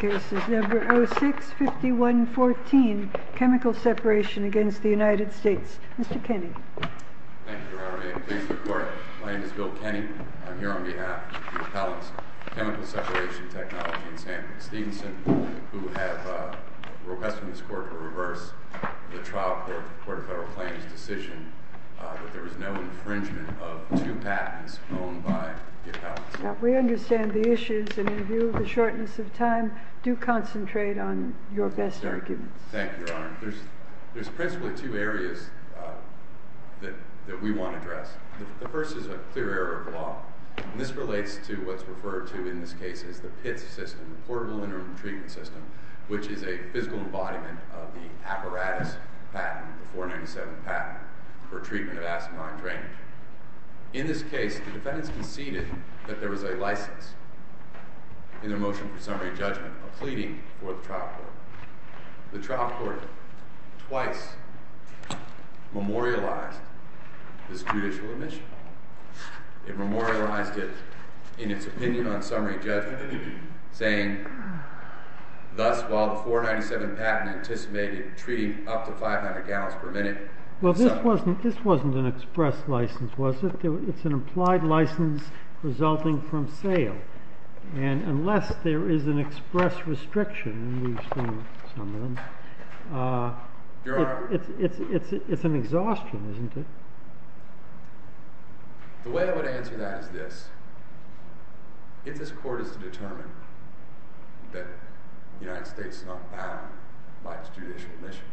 This case is number 06-5114, Chemical Separation v. United States Mr. Kenny. Thank you, Your Honor. My name is Bill Kenny. I'm here on behalf of the Appellants, Chemical Separation Technology in San Francisco, who have requested this court to reverse the trial court, the Court of Federal Claims' decision that there was no infringement of two patents owned by the appellants. Now, we understand the issues, and in view of the shortness of time, do concentrate on your best arguments. Thank you, Your Honor. There's principally two areas that we want to address. The first is a clear error of the law, and this relates to what's referred to in this case as the PITS system, the Portable Interim Treatment System, which is a physical embodiment of the apparatus patent, the 497 patent, for treatment of asinine drainage. In this case, the defendants conceded that there was a license in their motion for summary judgment, a pleading for the trial court. The trial court twice memorialized this judicial omission. It memorialized it in its opinion on summary judgment, saying, thus, while the 497 patent anticipated treating up to 500 gallons per minute. Well, this wasn't an express license, was it? It's an implied license resulting from sale. And unless there is an express restriction, and we've seen some of them, it's an exhaustion, isn't it? The way I would answer that is this. If this court is to determine that the United States is not bound by its judicial omission,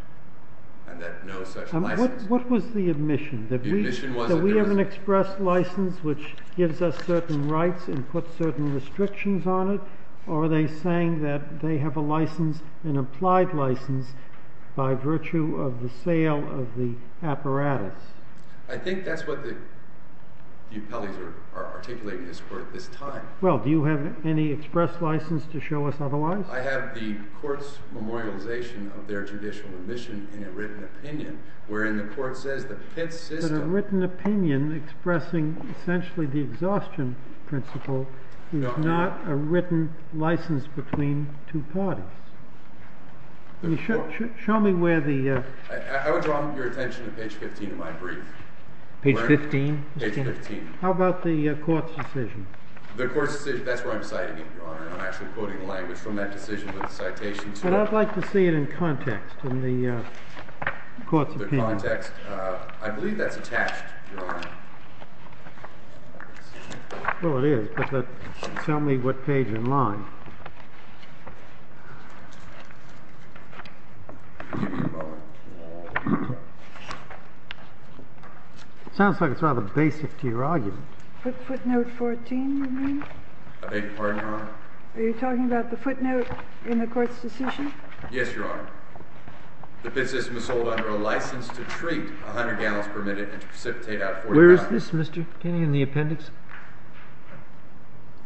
and that no such license— What was the omission? That we have an express license which gives us certain rights and puts certain restrictions on it? Or are they saying that they have a license, an implied license, by virtue of the sale of the apparatus? I think that's what the upellies are articulating in this court at this time. Well, do you have any express license to show us otherwise? I have the court's memorialization of their judicial omission in a written opinion, wherein the court says the pen system— But a written opinion expressing essentially the exhaustion principle is not a written license between two parties. Show me where the— I would draw your attention to page 15 of my brief. Page 15? Page 15. How about the court's decision? The court's decision—that's where I'm citing it, Your Honor. I'm actually quoting language from that decision with a citation to it. But I'd like to see it in context, in the court's opinion. The context—I believe that's attached, Your Honor. Well, it is, but tell me what page and line. It sounds like it's rather basic to your argument. Footnote 14, you mean? I beg your pardon, Your Honor? Are you talking about the footnote in the court's decision? Yes, Your Honor. The pen system is sold under a license to treat 100 gallons per minute and to precipitate out 40 gallons. Where is this, Mr. Kinney, in the appendix?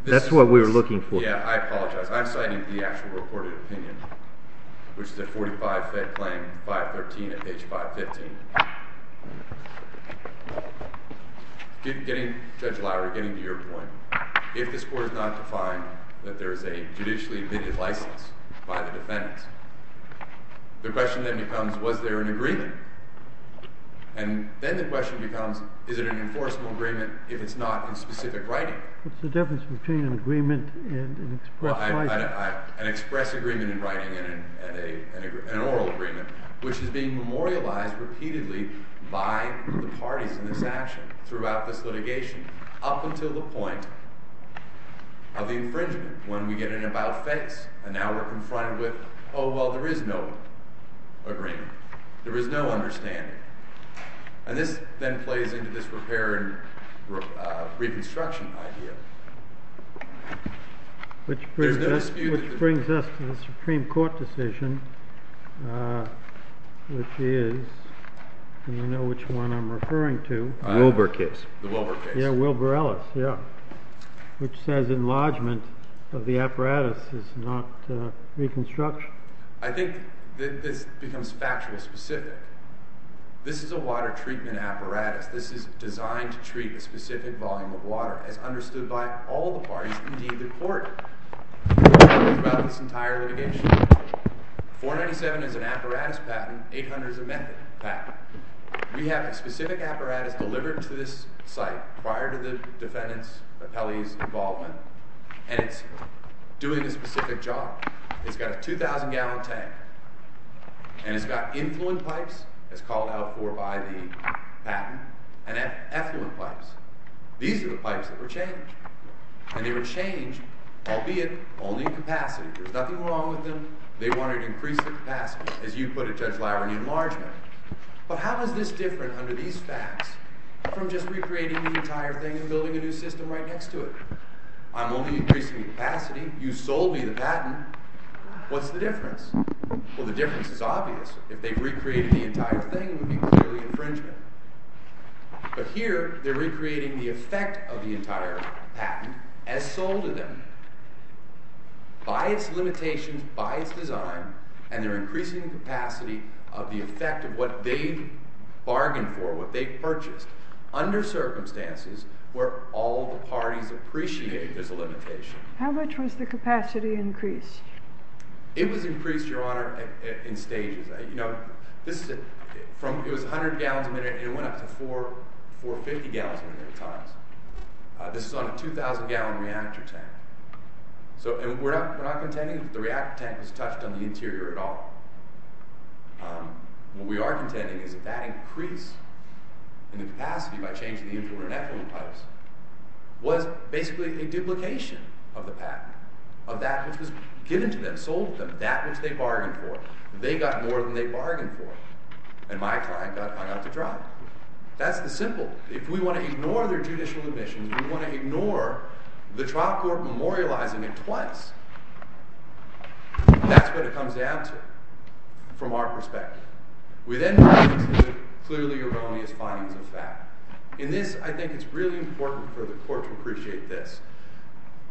That's what we were looking for. Yeah, I apologize. I'm citing the actual reported opinion, which is at 45, Fed Claim 513 at page 515. Judge Lowry, getting to your point, if the score is not defined that there is a judicially-admitted license by the defendants, the question then becomes, was there an agreement? And then the question becomes, is it an enforceable agreement if it's not in specific writing? What's the difference between an agreement and an express writing? An express agreement in writing and an oral agreement, which is being memorialized repeatedly by the parties in this action throughout this litigation up until the point of the infringement when we get an about-face. And now we're confronted with, oh, well, there is no agreement. There is no understanding. And this then plays into this repair and reconstruction idea. Which brings us to the Supreme Court decision, which is, and you know which one I'm referring to. The Wilbur case. The Wilbur case. Yeah, Wilbur Ellis, yeah, which says enlargement of the apparatus is not reconstruction. I think that this becomes factual specific. This is a water treatment apparatus. This is designed to treat a specific volume of water, as understood by all the parties, indeed the court, throughout this entire litigation. 497 is an apparatus patent. 800 is a method patent. We have a specific apparatus delivered to this site prior to the defendant's appellee's involvement, and it's doing a specific job. It's got a 2,000-gallon tank, and it's got influent pipes, as called out for by the patent, and effluent pipes. These are the pipes that were changed. And they were changed, albeit only in capacity. There's nothing wrong with them. They wanted increased capacity, as you put it, Judge Lowry, in enlargement. But how is this different under these facts from just recreating the entire thing and building a new system right next to it? I'm only increasing capacity. You sold me the patent. What's the difference? Well, the difference is obvious. If they recreated the entire thing, it would be clearly infringement. But here they're recreating the effect of the entire patent as sold to them by its limitations, by its design, and they're increasing capacity of the effect of what they bargained for, what they purchased, under circumstances where all the parties appreciate there's a limitation. How much was the capacity increased? It was increased, Your Honor, in stages. It was 100 gallons a minute, and it went up to 450 gallons a minute at times. This is on a 2,000-gallon reactor tank. And we're not contending that the reactor tank was touched on the interior at all. What we are contending is that that increase in the capacity by changing the influence in effluent pipes was basically a duplication of the patent, of that which was given to them, sold to them, that which they bargained for. They got more than they bargained for, and my client got hung up to drop. That's the simple. If we want to ignore their judicial admissions, we want to ignore the trial court memorializing it twice. That's what it comes down to from our perspective. We then move on to the clearly erroneous findings of fact. In this, I think it's really important for the court to appreciate this.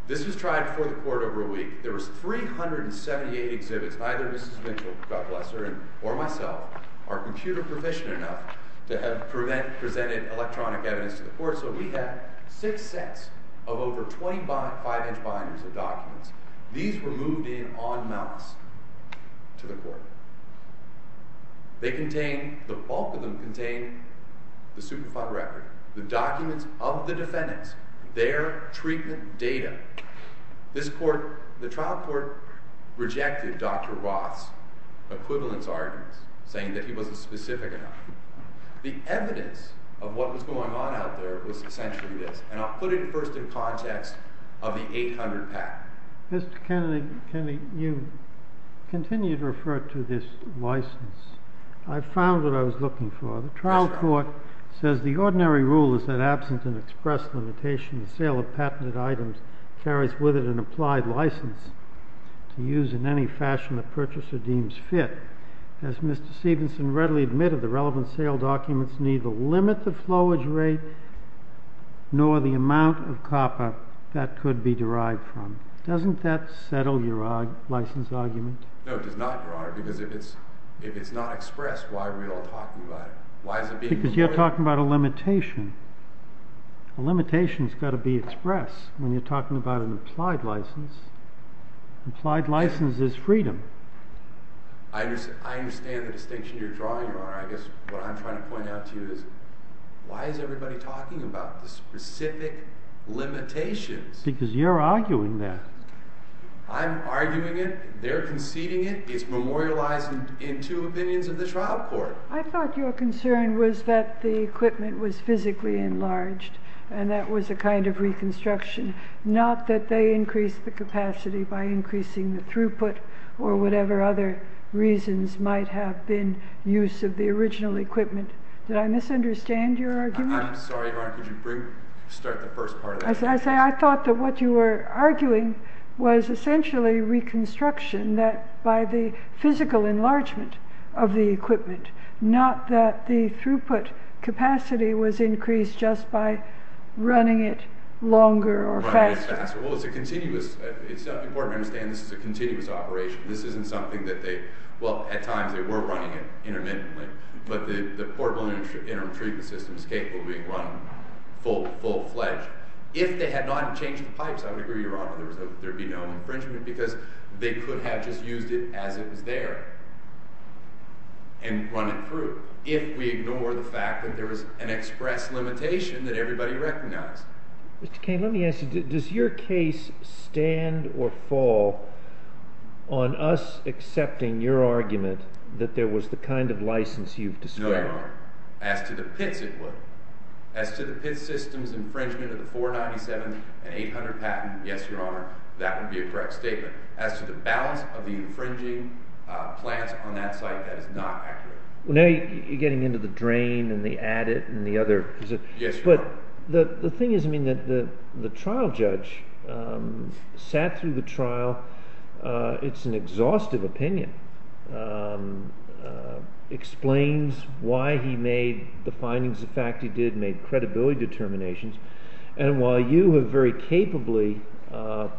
This was tried before the court over a week. There was 378 exhibits. Neither Mrs. Mitchell, God bless her, or myself are computer proficient enough to have presented electronic evidence to the court, so we have six sets of over 25-inch binders of documents. These were moved in on mounts to the court. The bulk of them contain the Superfund record, the documents of the defendants, their treatment data. The trial court rejected Dr. Roth's equivalence arguments, saying that he wasn't specific enough. The evidence of what was going on out there was essentially this, and I'll put it first in context of the 800 patent. Mr. Kennedy, you continue to refer to this license. I found what I was looking for. The trial court says the ordinary rule is that absent an express limitation, the sale of patented items carries with it an applied license to use in any fashion the purchaser deems fit. As Mr. Stevenson readily admitted, the relevant sale documents neither limit the flowage rate nor the amount of copper that could be derived from. Doesn't that settle your license argument? No, it does not, Your Honor, because if it's not expressed, why are we all talking about it? Because you're talking about a limitation. A limitation's got to be expressed when you're talking about an applied license. An applied license is freedom. I understand the distinction you're drawing, Your Honor. I guess what I'm trying to point out to you is why is everybody talking about the specific limitations? Because you're arguing that. I'm arguing it. They're conceding it. It's memorialized in two opinions of the trial court. I thought your concern was that the equipment was physically enlarged and that was a kind of reconstruction, not that they increased the capacity by increasing the throughput or whatever other reasons might have been use of the original equipment. Did I misunderstand your argument? I'm sorry, Your Honor. Could you start the first part of that? I thought that what you were arguing was essentially reconstruction by the physical enlargement of the equipment, not that the throughput capacity was increased just by running it longer or faster. Well, it's important to understand this is a continuous operation. This isn't something that they—well, at times they were running it intermittently, but the portable interim treatment system is capable of being run full-fledged. If they had not changed the pipes, I would agree, Your Honor, there would be no infringement because they could have just used it as it was there and run it through if we ignore the fact that there was an express limitation that everybody recognized. Mr. Kane, let me ask you, does your case stand or fall on us accepting your argument that there was the kind of license you've described? No, Your Honor. As to the pits, it would. As to the pit systems infringement of the 497 and 800 patent, yes, Your Honor, that would be a correct statement. As to the balance of the infringing plants on that site, that is not accurate. Well, now you're getting into the drain and the adit and the other— Yes, Your Honor. But the thing is, I mean, the trial judge sat through the trial. It's an exhaustive opinion, explains why he made the findings of fact he did, made credibility determinations. And while you have very capably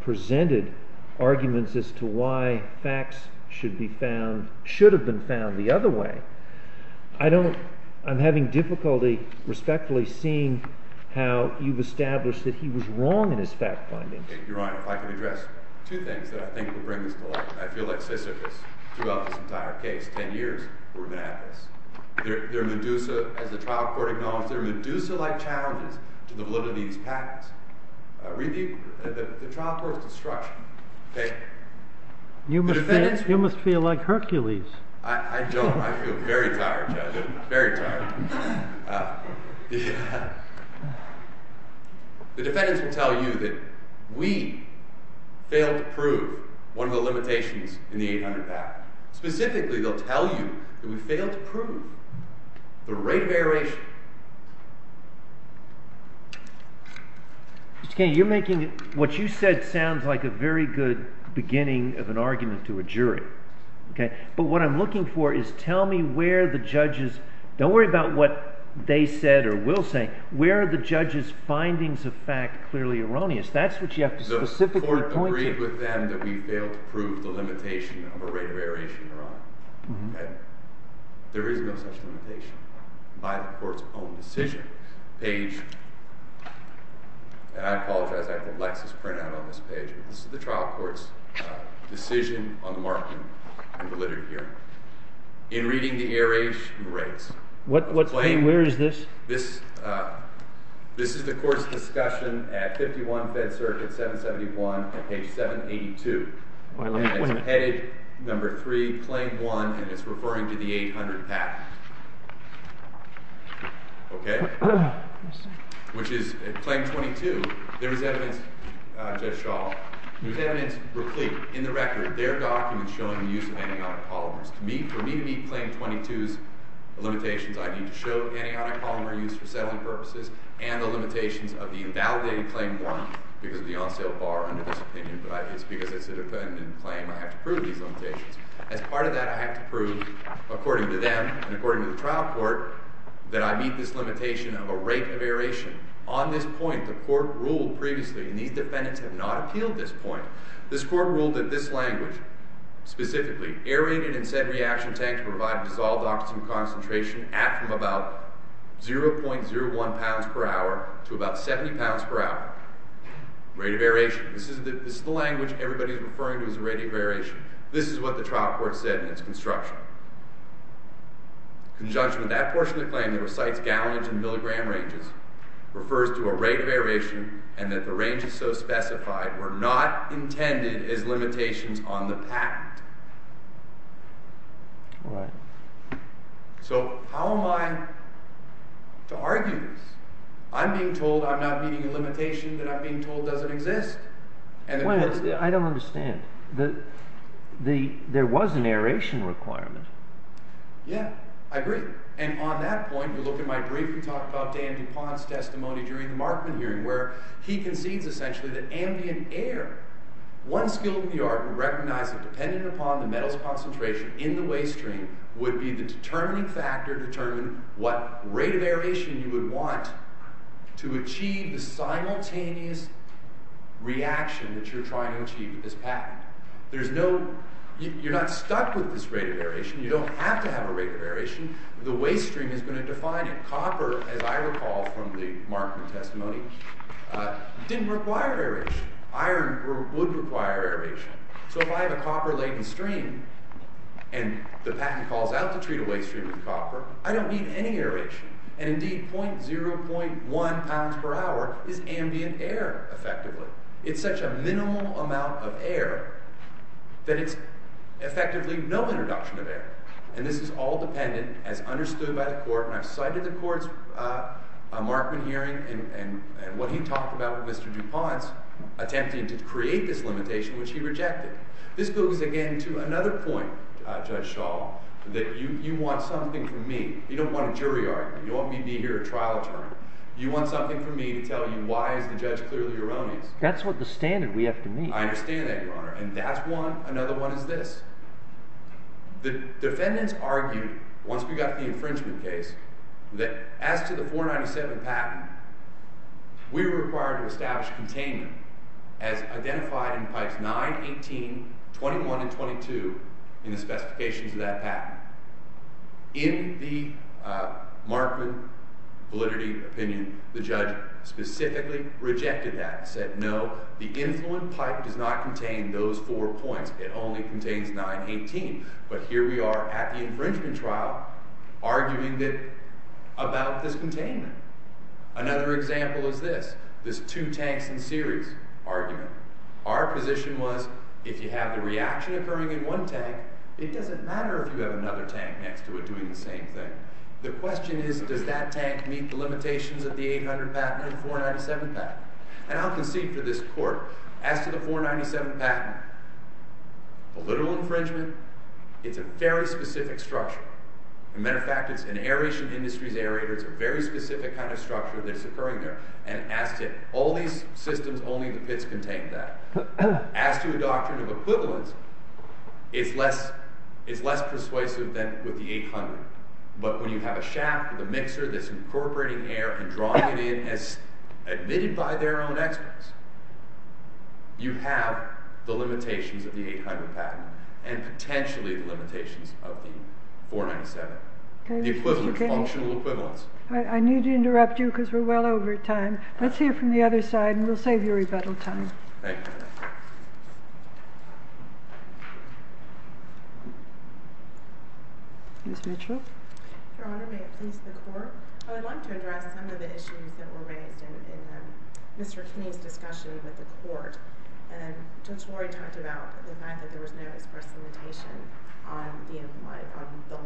presented arguments as to why facts should have been found the other way, I don't—I'm having difficulty respectfully seeing how you've established that he was wrong in his fact findings. Your Honor, if I could address two things that I think would bring this to light. I feel like Sisyphus throughout this entire case, 10 years, we're going to have this. There are Medusa—as the trial court acknowledged, there are Medusa-like challenges to the validity of these patents. Read the trial court's destruction. You must feel like Hercules. I don't. I feel very tired, Judge. Very tired. The defendants will tell you that we failed to prove one of the limitations in the 800 Act. Specifically, they'll tell you that we failed to prove the rate of aeration. Mr. Kennedy, you're making what you said sounds like a very good beginning of an argument to a jury. But what I'm looking for is tell me where the judges—don't worry about what they said or will say—where are the judges' findings of fact clearly erroneous? That's what you have to specifically point to. The court agreed with them that we failed to prove the limitation of a rate of aeration, Your Honor. There is no such limitation by the court's own decision. And I apologize, I have the Lexis printout on this page. This is the trial court's decision on the marking in the literary hearing. In reading the aeration rates, the claim— Where is this? This is the court's discussion at 51 Fed Circuit 771 at page 782. And it's headed number three, claim one, and it's referring to the 800 Act. Okay? Which is claim 22. There is evidence, Judge Shaw, there is evidence in the record. There are documents showing the use of anionic polymers. For me to meet claim 22's limitations, I need to show anionic polymer use for settling purposes and the limitations of the invalidated claim one. Because of the on-sale bar under this opinion, but it's because it's an independent claim, I have to prove these limitations. As part of that, I have to prove, according to them and according to the trial court, that I meet this limitation of a rate of aeration. On this point, the court ruled previously, and these defendants have not appealed this point, this court ruled that this language, specifically, aerated and said reaction tank to provide dissolved oxygen concentration at from about 0.01 pounds per hour to about 70 pounds per hour, rate of aeration. This is the language everybody is referring to as the rate of aeration. This is what the trial court said in its construction. In conjunction with that portion of the claim that recites gallonage and milligram ranges, refers to a rate of aeration and that the ranges so specified were not intended as limitations on the patent. So how am I to argue this? I'm being told I'm not meeting a limitation, but I'm being told it doesn't exist. I don't understand. There was an aeration requirement. Yeah, I agree. And on that point, you look at my brief and talk about Dan DuPont's testimony during the Markman hearing, where he concedes, essentially, that ambient air, one skill in the art of recognizing, depending upon the metal's concentration in the waste stream, would be the determining factor to determine what rate of aeration you would want to achieve the simultaneous reaction that you're trying to achieve with this patent. You're not stuck with this rate of aeration. You don't have to have a rate of aeration. The waste stream is going to define it. Copper, as I recall from the Markman testimony, didn't require aeration. Iron would require aeration. So if I have a copper-laden stream and the patent calls out to treat a waste stream with copper, I don't need any aeration. And indeed, 0.01 pounds per hour is ambient air, effectively. It's such a minimal amount of air that it's effectively no introduction of air. And this is all dependent, as understood by the court, and I've cited the court's Markman hearing and what he talked about with Mr. DuPont's attempt to create this limitation, which he rejected. This goes again to another point, Judge Shaw, that you want something from me. You don't want a jury argument. You don't want me to be here at trial term. You want something from me to tell you why is the judge clearly erroneous. That's what the standard we have to meet. I understand that, Your Honor. And that's one. Another one is this. The defendants argued, once we got the infringement case, that as to the 497 patent, we were required to establish containment as identified in pipes 9, 18, 21, and 22 in the specifications of that patent. In the Markman validity opinion, the judge specifically rejected that and said, no, the influent pipe does not contain those four points. It only contains 9, 18. But here we are at the infringement trial, arguing about this containment. Another example is this, this two tanks in series argument. Our position was, if you have the reaction occurring in one tank, it doesn't matter if you have another tank next to it doing the same thing. The question is, does that tank meet the limitations of the 800 patent and 497 patent? And I'll concede to this court, as to the 497 patent, the literal infringement, it's a very specific structure. As a matter of fact, it's an aeration industry's aerator. It's a very specific kind of structure that's occurring there. And as to all these systems, only the pits contain that. As to a doctrine of equivalence, it's less persuasive than with the 800. But when you have a shaft with a mixer that's incorporating air and drawing it in, and it's admitted by their own experts, you have the limitations of the 800 patent and potentially the limitations of the 497. The equivalent, functional equivalence. I need to interrupt you because we're well over time. Let's hear from the other side, and we'll save you rebuttal time. Thank you. Ms. Mitchell? Your Honor, may it please the Court? I would like to address some of the issues that were raised in Mr. Kinney's discussion with the Court. And Judge Lori talked about the fact that there was no express limitation on the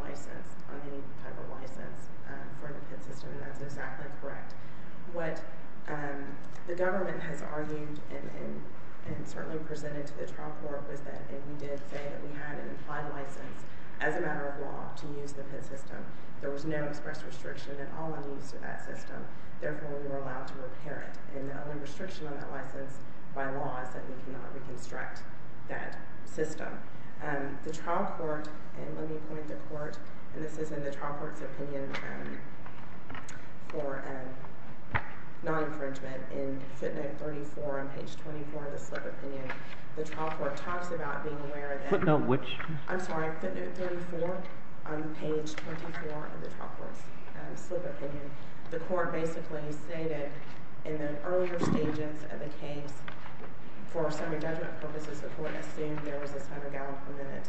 license, on any type of license for the pit system, and that's exactly correct. What the government has argued and certainly presented to the trial court was that if we did say that we had an implied license as a matter of law to use the pit system, there was no express restriction at all in the use of that system. Therefore, we were allowed to repair it. And the only restriction on that license by law is that we cannot reconstruct that system. The trial court, and let me point the Court, and this is in the trial court's opinion for non-infringement in footnote 34 on page 24 of the slip opinion. The trial court talks about being aware of that. Footnote which? I'm sorry, footnote 34 on page 24 of the trial court's slip opinion. The Court basically stated in the earlier stages of the case for summary judgment purposes, the Court assumed there was a summary gallon per minute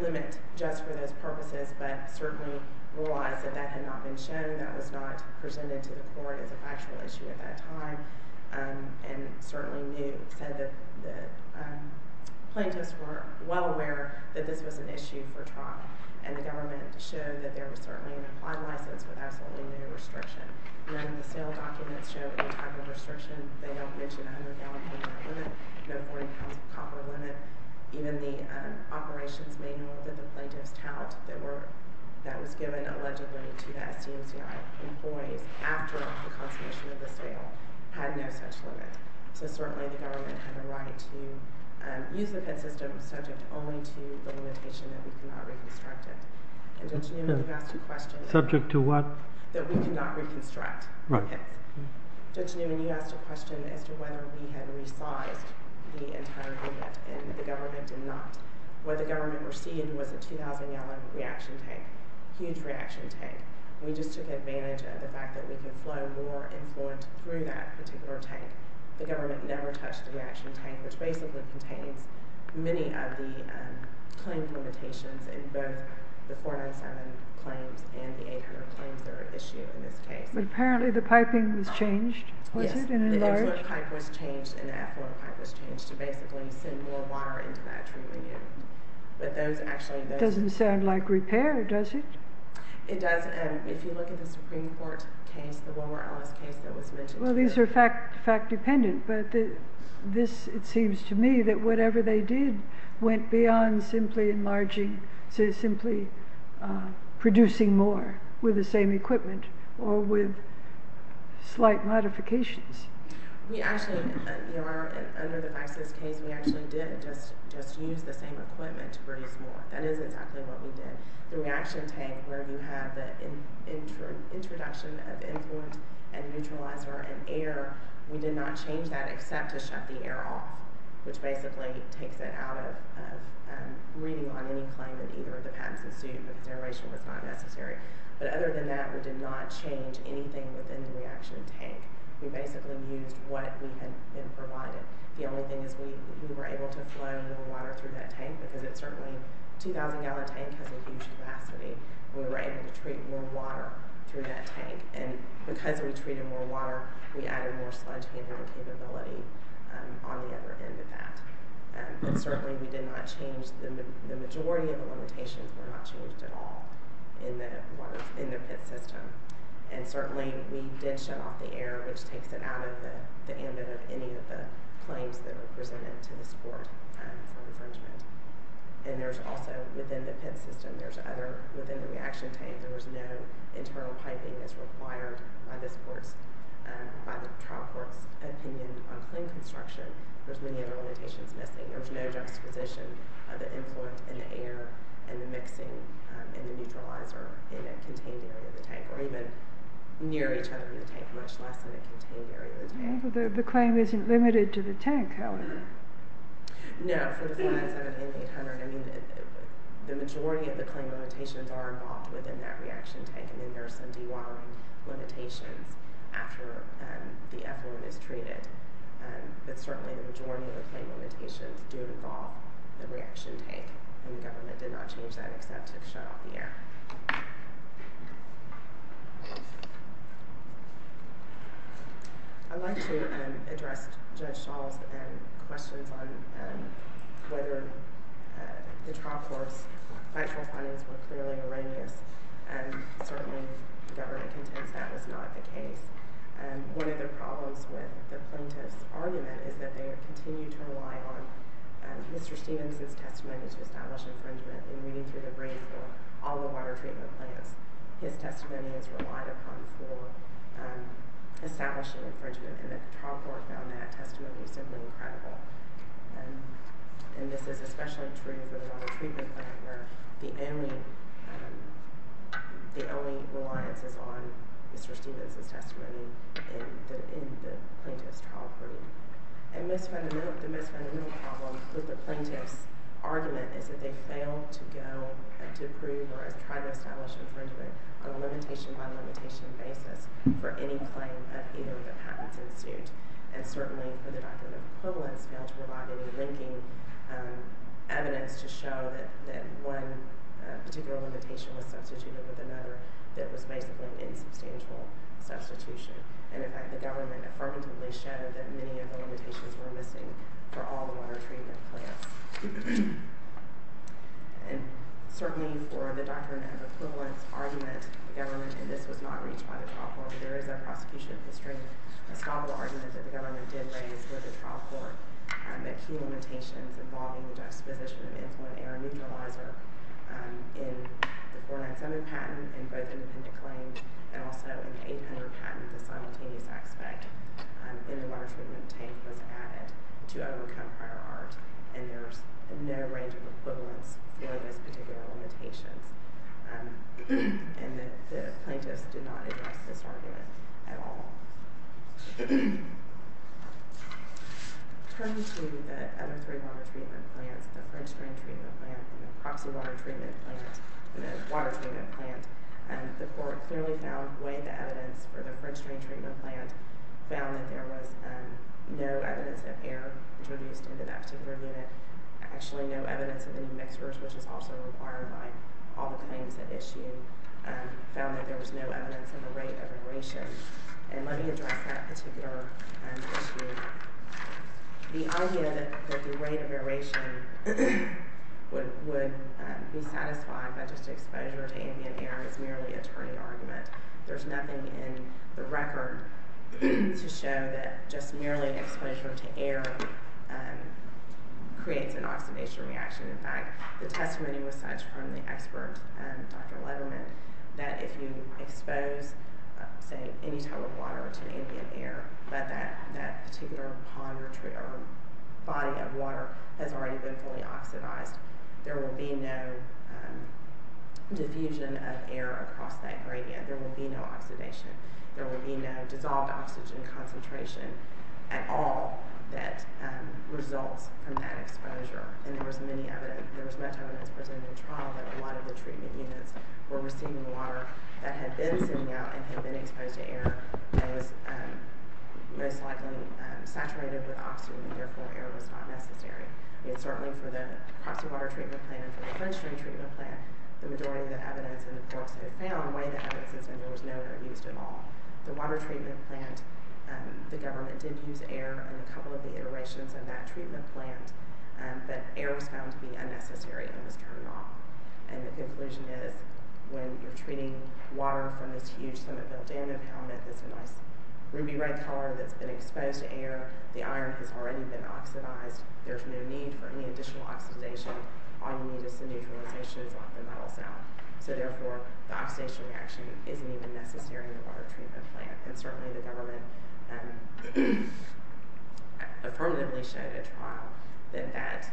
limit just for those purposes, but certainly realized that that had not been shown, that was not presented to the Court as a factual issue at that time, and certainly knew, said that the plaintiffs were well aware that this was an issue for trial, and the government showed that there was certainly an implied license with absolutely no restriction. None of the sale documents show any type of restriction. They don't mention a hundred gallon per minute limit, no 40 pounds of copper limit. Even the operations manual that the plaintiffs held, that was given allegedly to the SD&CI employees after the consummation of the sale, had no such limit. So certainly the government had a right to use the PITT system subject only to the limitation that we could not reconstruct it. Subject to what? That we could not reconstruct. Judge Newman, you asked a question as to whether we had resized the entire limit, and the government did not. What the government received was a 2,000 gallon reaction tank, a huge reaction tank. We just took advantage of the fact that we could flow more influence through that particular tank. The government never touched the reaction tank, which basically contains many of the claim limitations in both the 407 claims and the 800 claims that are at issue in this case. The inlet pipe was changed and the outlet pipe was changed to basically send more water into that treatment unit. That doesn't sound like repair, does it? It doesn't. If you look at the Supreme Court case, the Wilmer Ellis case that was mentioned... Well, these are fact-dependent, but this, it seems to me, that whatever they did went beyond simply enlarging, to simply producing more with the same equipment or with slight modifications. We actually, under the ISIS case, we actually did just use the same equipment to produce more. That is exactly what we did. The reaction tank where you have the introduction of influence and neutralizer and air, we did not change that except to shut the air off, which basically takes it out of reading on any claim that either of the patents ensued, but the duration was not necessary. But other than that, we did not change anything within the reaction tank. We basically used what we had been provided. The only thing is we were able to flow more water through that tank because it certainly, a 2,000 gallon tank has a huge capacity. We were able to treat more water through that tank. Because we treated more water, we added more sponge handling capability on the other end of that. Certainly, we did not change, the majority of the limitations were not changed at all in the PIT system. Certainly, we did shut off the air, which takes it out of the ambit of any of the claims that were presented to the court for infringement. There's also, within the PIT system, there's other, within the reaction tank, there was no internal piping as required by this court's, by the trial court's opinion on claim construction. There's many other limitations missing. There's no juxtaposition of the influence in the air, and the mixing, and the neutralizer in a contained area of the tank, or even near each other in the tank, much less in a contained area of the tank. The claim isn't limited to the tank, however. No. The majority of the claim limitations are involved within that reaction tank, and there are some de-watering limitations after the effluent is treated. But certainly, the majority of the claim limitations do involve the reaction tank, and the government did not change that except to shut off the air. I'd like to address Judge Schall's questions on whether the trial court's factual findings were clearly erroneous, and certainly the government contends that was not the case. One of the problems with the plaintiffs' argument is that they continue to rely on Mr. Stevens' testimony to establish infringement in reading through the brief for all the water treatment plants. His testimony is relied upon for establishing infringement, and the trial court found that testimony simply incredible. And this is especially true for the water treatment plant, where the only reliance is on Mr. Stevens' testimony in the plaintiff's trial brief. The most fundamental problem with the plaintiffs' argument is that they failed to go to prove or try to establish infringement on a limitation-by-limitation basis for any claim that either of the patents ensued. And certainly, for the document of equivalence, they failed to provide any linking evidence to show that one particular limitation was substituted with another that was basically an insubstantial substitution. And in fact, the government affirmatively showed that many of the limitations were missing for all the water treatment plants. And certainly, for the document of equivalence argument, the government, and this was not reached by the trial court, but there is a prosecution history, a small argument that the government did raise with the trial court that key limitations involving the dispossession of influent era neutralizer in the 497 patent and also in the 800 patent, the simultaneous aspect in the water treatment tank was added to overcome prior art. And there's no range of equivalence during those particular limitations. And the plaintiffs did not address this argument at all. Turning to the other three water treatment plants, the French drain treatment plant, the proxy water treatment plant, and the water treatment plant, the court clearly found the way the evidence for the French drain treatment plant found that there was no evidence of air introduced into that particular unit, actually no evidence of any mixtures, which is also required by all the claims that issue, found that there was no evidence of a rate of aeration. And let me address that particular issue. The idea that the rate of aeration would be satisfied by just exposure to ambient air is merely a turning argument. There's nothing in the record to show that just merely exposure to air creates an oxidation reaction. In fact, the testimony was such from the expert, Dr. Letterman, that if you expose, say, any type of water to ambient air, that that particular body of water has already been fully oxidized. There will be no diffusion of air across that gradient. There will be no oxidation. There will be no dissolved oxygen concentration at all that results from that exposure. And there was much evidence presented in trial that a lot of the treatment units were receiving water that had been sitting out and had been exposed to air and was most likely saturated with oxygen, and therefore air was not necessary. Certainly for the proxy water treatment plant and the French drain treatment plant, the majority of the evidence in the courts had found way to evidence that there was no air used at all. The water treatment plant, the government did use air in a couple of the iterations of that treatment plant, but air was found to be unnecessary and was turned off. And the conclusion is, when you're treating water from this huge cement-filled dam impoundment that's a nice ruby-red color that's been exposed to air, the iron has already been oxidized, there's no need for any additional oxidation. All you need is some neutralization, and it's off the metals now. So therefore, the oxidation reaction isn't even necessary in the water treatment plant. And certainly the government affirmatively showed at trial that that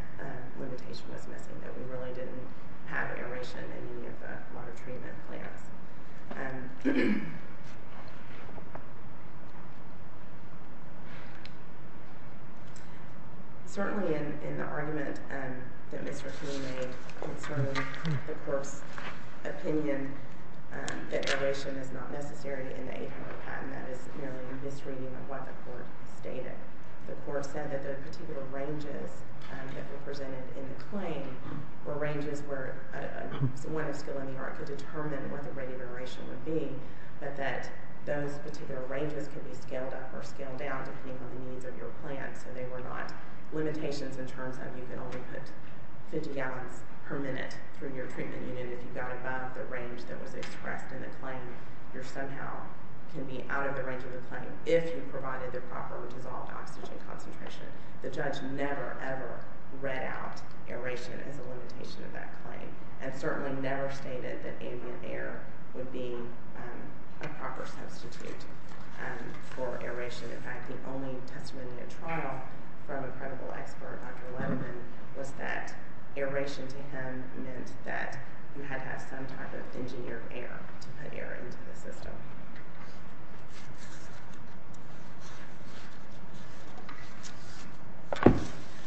limitation was missing, that we really didn't have aeration in any of the water treatment plants. Certainly in the argument that Mr. King made concerning the court's opinion that aeration is not necessary in the 800 patent, that is merely a misreading of what the court stated. The court said that the particular ranges that were presented in the claim were ranges where someone of skill in the art could determine what the rate of aeration would be, but that those particular ranges could be scaled up or scaled down depending on the needs of your plant, so they were not limitations in terms of you can only put 50 gallons per minute through your treatment unit if you got above the range that was expressed in the claim. You somehow can be out of the range of the claim if you provided the proper dissolved oxygen concentration. The judge never, ever read out aeration as a limitation of that claim, and certainly never stated that ambient air would be a proper substitute for aeration. In fact, the only testimony at trial from a credible expert, Dr. Levin, was that aeration to him meant that you had to have some type of engineered air to put air into the system.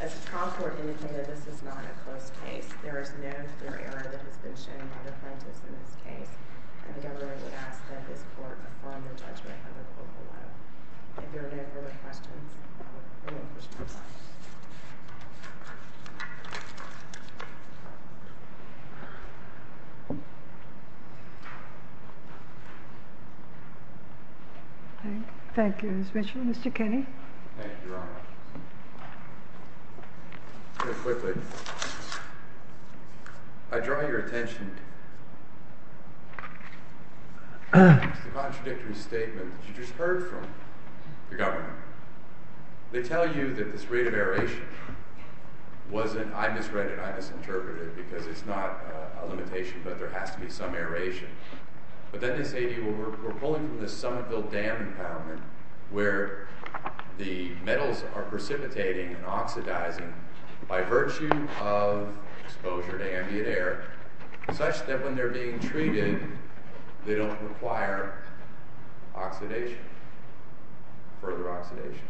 As the trial court indicated, this is not a closed case. There is no clear error that has been shown by the plaintiffs in this case. I think I really would ask that this court affirm the judgment of the court below. Thank you. Thank you, Ms. Mitchell. Mr. Kenney? Thank you, Your Honor. Real quickly, I draw your attention to the contradictory statement that you just heard from the government. They tell you that this rate of aeration wasn't—I misread it, I misinterpreted it, because it's not a limitation, but there has to be some aeration. But then they say to you, well, we're pulling from this Somerville Dam impoundment where the metals are precipitating and oxidizing by virtue of exposure to ambient air, such that when they're being treated, they don't require oxidation, further oxidation.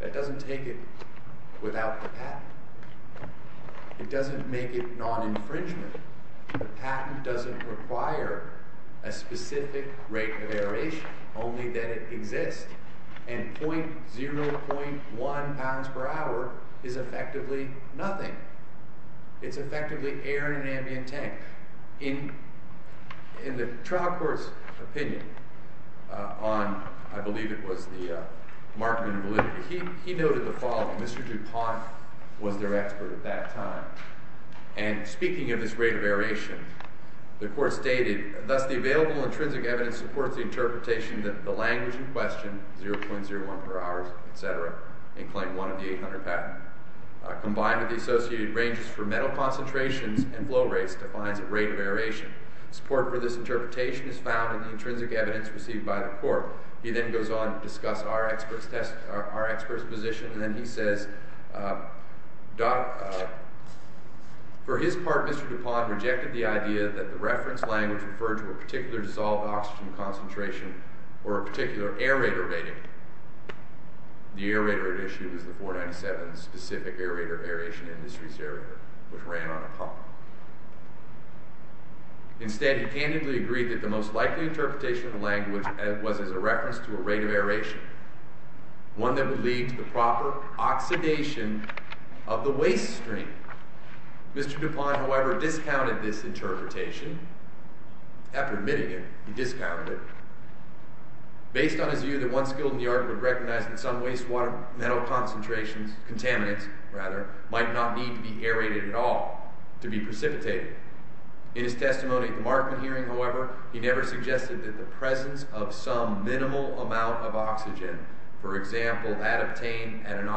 That doesn't take it without the patent. It doesn't make it non-infringement. The patent doesn't require a specific rate of aeration, only that it exists. And 0.1 pounds per hour is effectively nothing. It's effectively air in an ambient tank. In the trial court's opinion on, I believe it was the Markman validity, he noted the following. Mr. DuPont was their expert at that time. And speaking of this rate of aeration, the court stated, thus the available intrinsic evidence supports the interpretation that the language in question, 0.01 per hour, et cetera, in Claim 1 of the 800 patent, combined with the associated ranges for metal concentrations and flow rates, defines a rate of aeration. Support for this interpretation is found in the intrinsic evidence received by the court. He then goes on to discuss our expert's position. And then he says, for his part, Mr. DuPont rejected the idea that the reference language referred to a particular dissolved oxygen concentration or a particular aerator rating. The aerator at issue was the 497 specific aerator, aeration industries aerator, which ran on a pump. Instead, he candidly agreed that the most likely interpretation of the language was as a reference to a rate of aeration, one that would lead to the proper oxidation of the waste stream. Mr. DuPont, however, discounted this interpretation. After admitting it, he discounted it. Based on his view that one skilled in the art would recognize that some wastewater metal concentrations, contaminants, rather, might not need to be aerated at all to be precipitated. In his testimony at the Markman hearing, however, he never suggested that the presence of some minimal amount of oxygen, for example, had obtained at an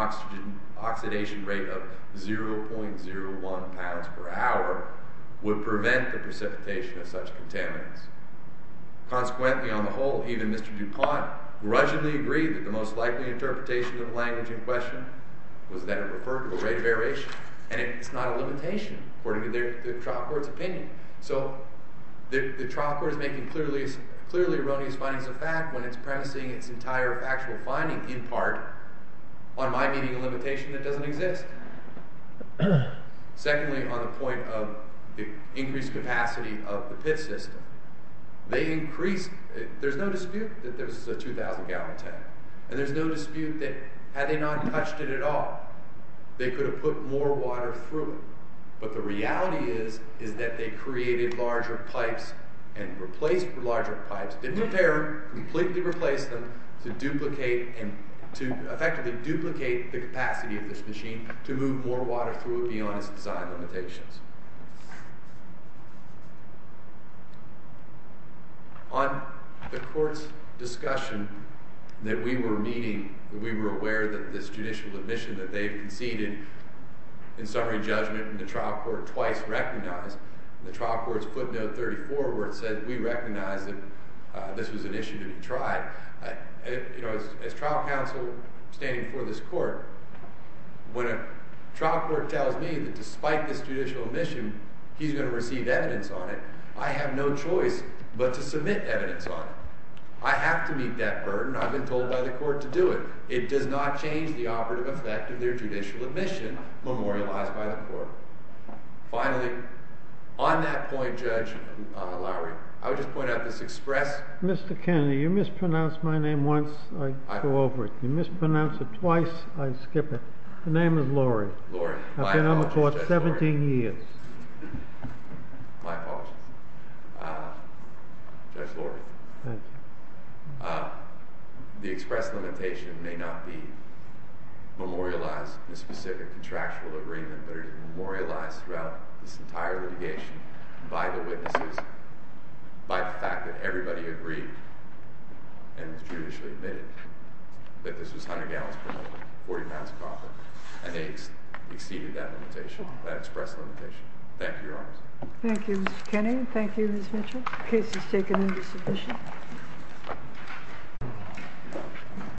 oxidation rate of 0.01 pounds per hour, would prevent the precipitation of such contaminants. Consequently, on the whole, even Mr. DuPont grudgingly agreed that the most likely interpretation of the language in question was that it referred to a rate of aeration. And it's not a limitation, according to the trial court's opinion. So, the trial court is making clearly erroneous findings of fact when it's premising its entire factual finding, in part, on my meeting a limitation that doesn't exist. Secondly, on the point of the increased capacity of the pit system. There's no dispute that this is a 2,000 gallon tank. And there's no dispute that, had they not touched it at all, they could have put more water through it. But the reality is that they created larger pipes and replaced the larger pipes, didn't repair them, completely replaced them, to effectively duplicate the capacity of this machine to move more water through it beyond its design limitations. On the court's discussion that we were meeting, that we were aware that this judicial admission that they've conceded in summary judgment, and the trial court twice recognized, and the trial court's footnote 34 where it said, we recognize that this was an issue to be tried. As trial counsel standing before this court, when a trial court tells me that despite this judicial admission, he's going to receive evidence on it, I have no choice but to submit evidence on it. I have to meet that burden. I've been told by the court to do it. It does not change the operative effect of their judicial admission memorialized by the court. Finally, on that point, Judge Lowry, I would just point out this express Mr. Kennedy, you mispronounced my name once, I go over it. You mispronounce it twice, I skip it. The name is Lowry. Lowry. I've been on the court 17 years. My apologies. Judge Lowry. Thank you. The express limitation may not be memorialized in a specific contractual agreement, but it is memorialized throughout this entire litigation by the witnesses, by the fact that everybody agreed and was judicially admitted that this was 100 gallons per minute, 40 pounds of coffee, and they exceeded that limitation, that express limitation. Thank you, Your Honors. Thank you, Mr. Kennedy. Thank you, Ms. Mitchell. The case is taken into submission. Thank you.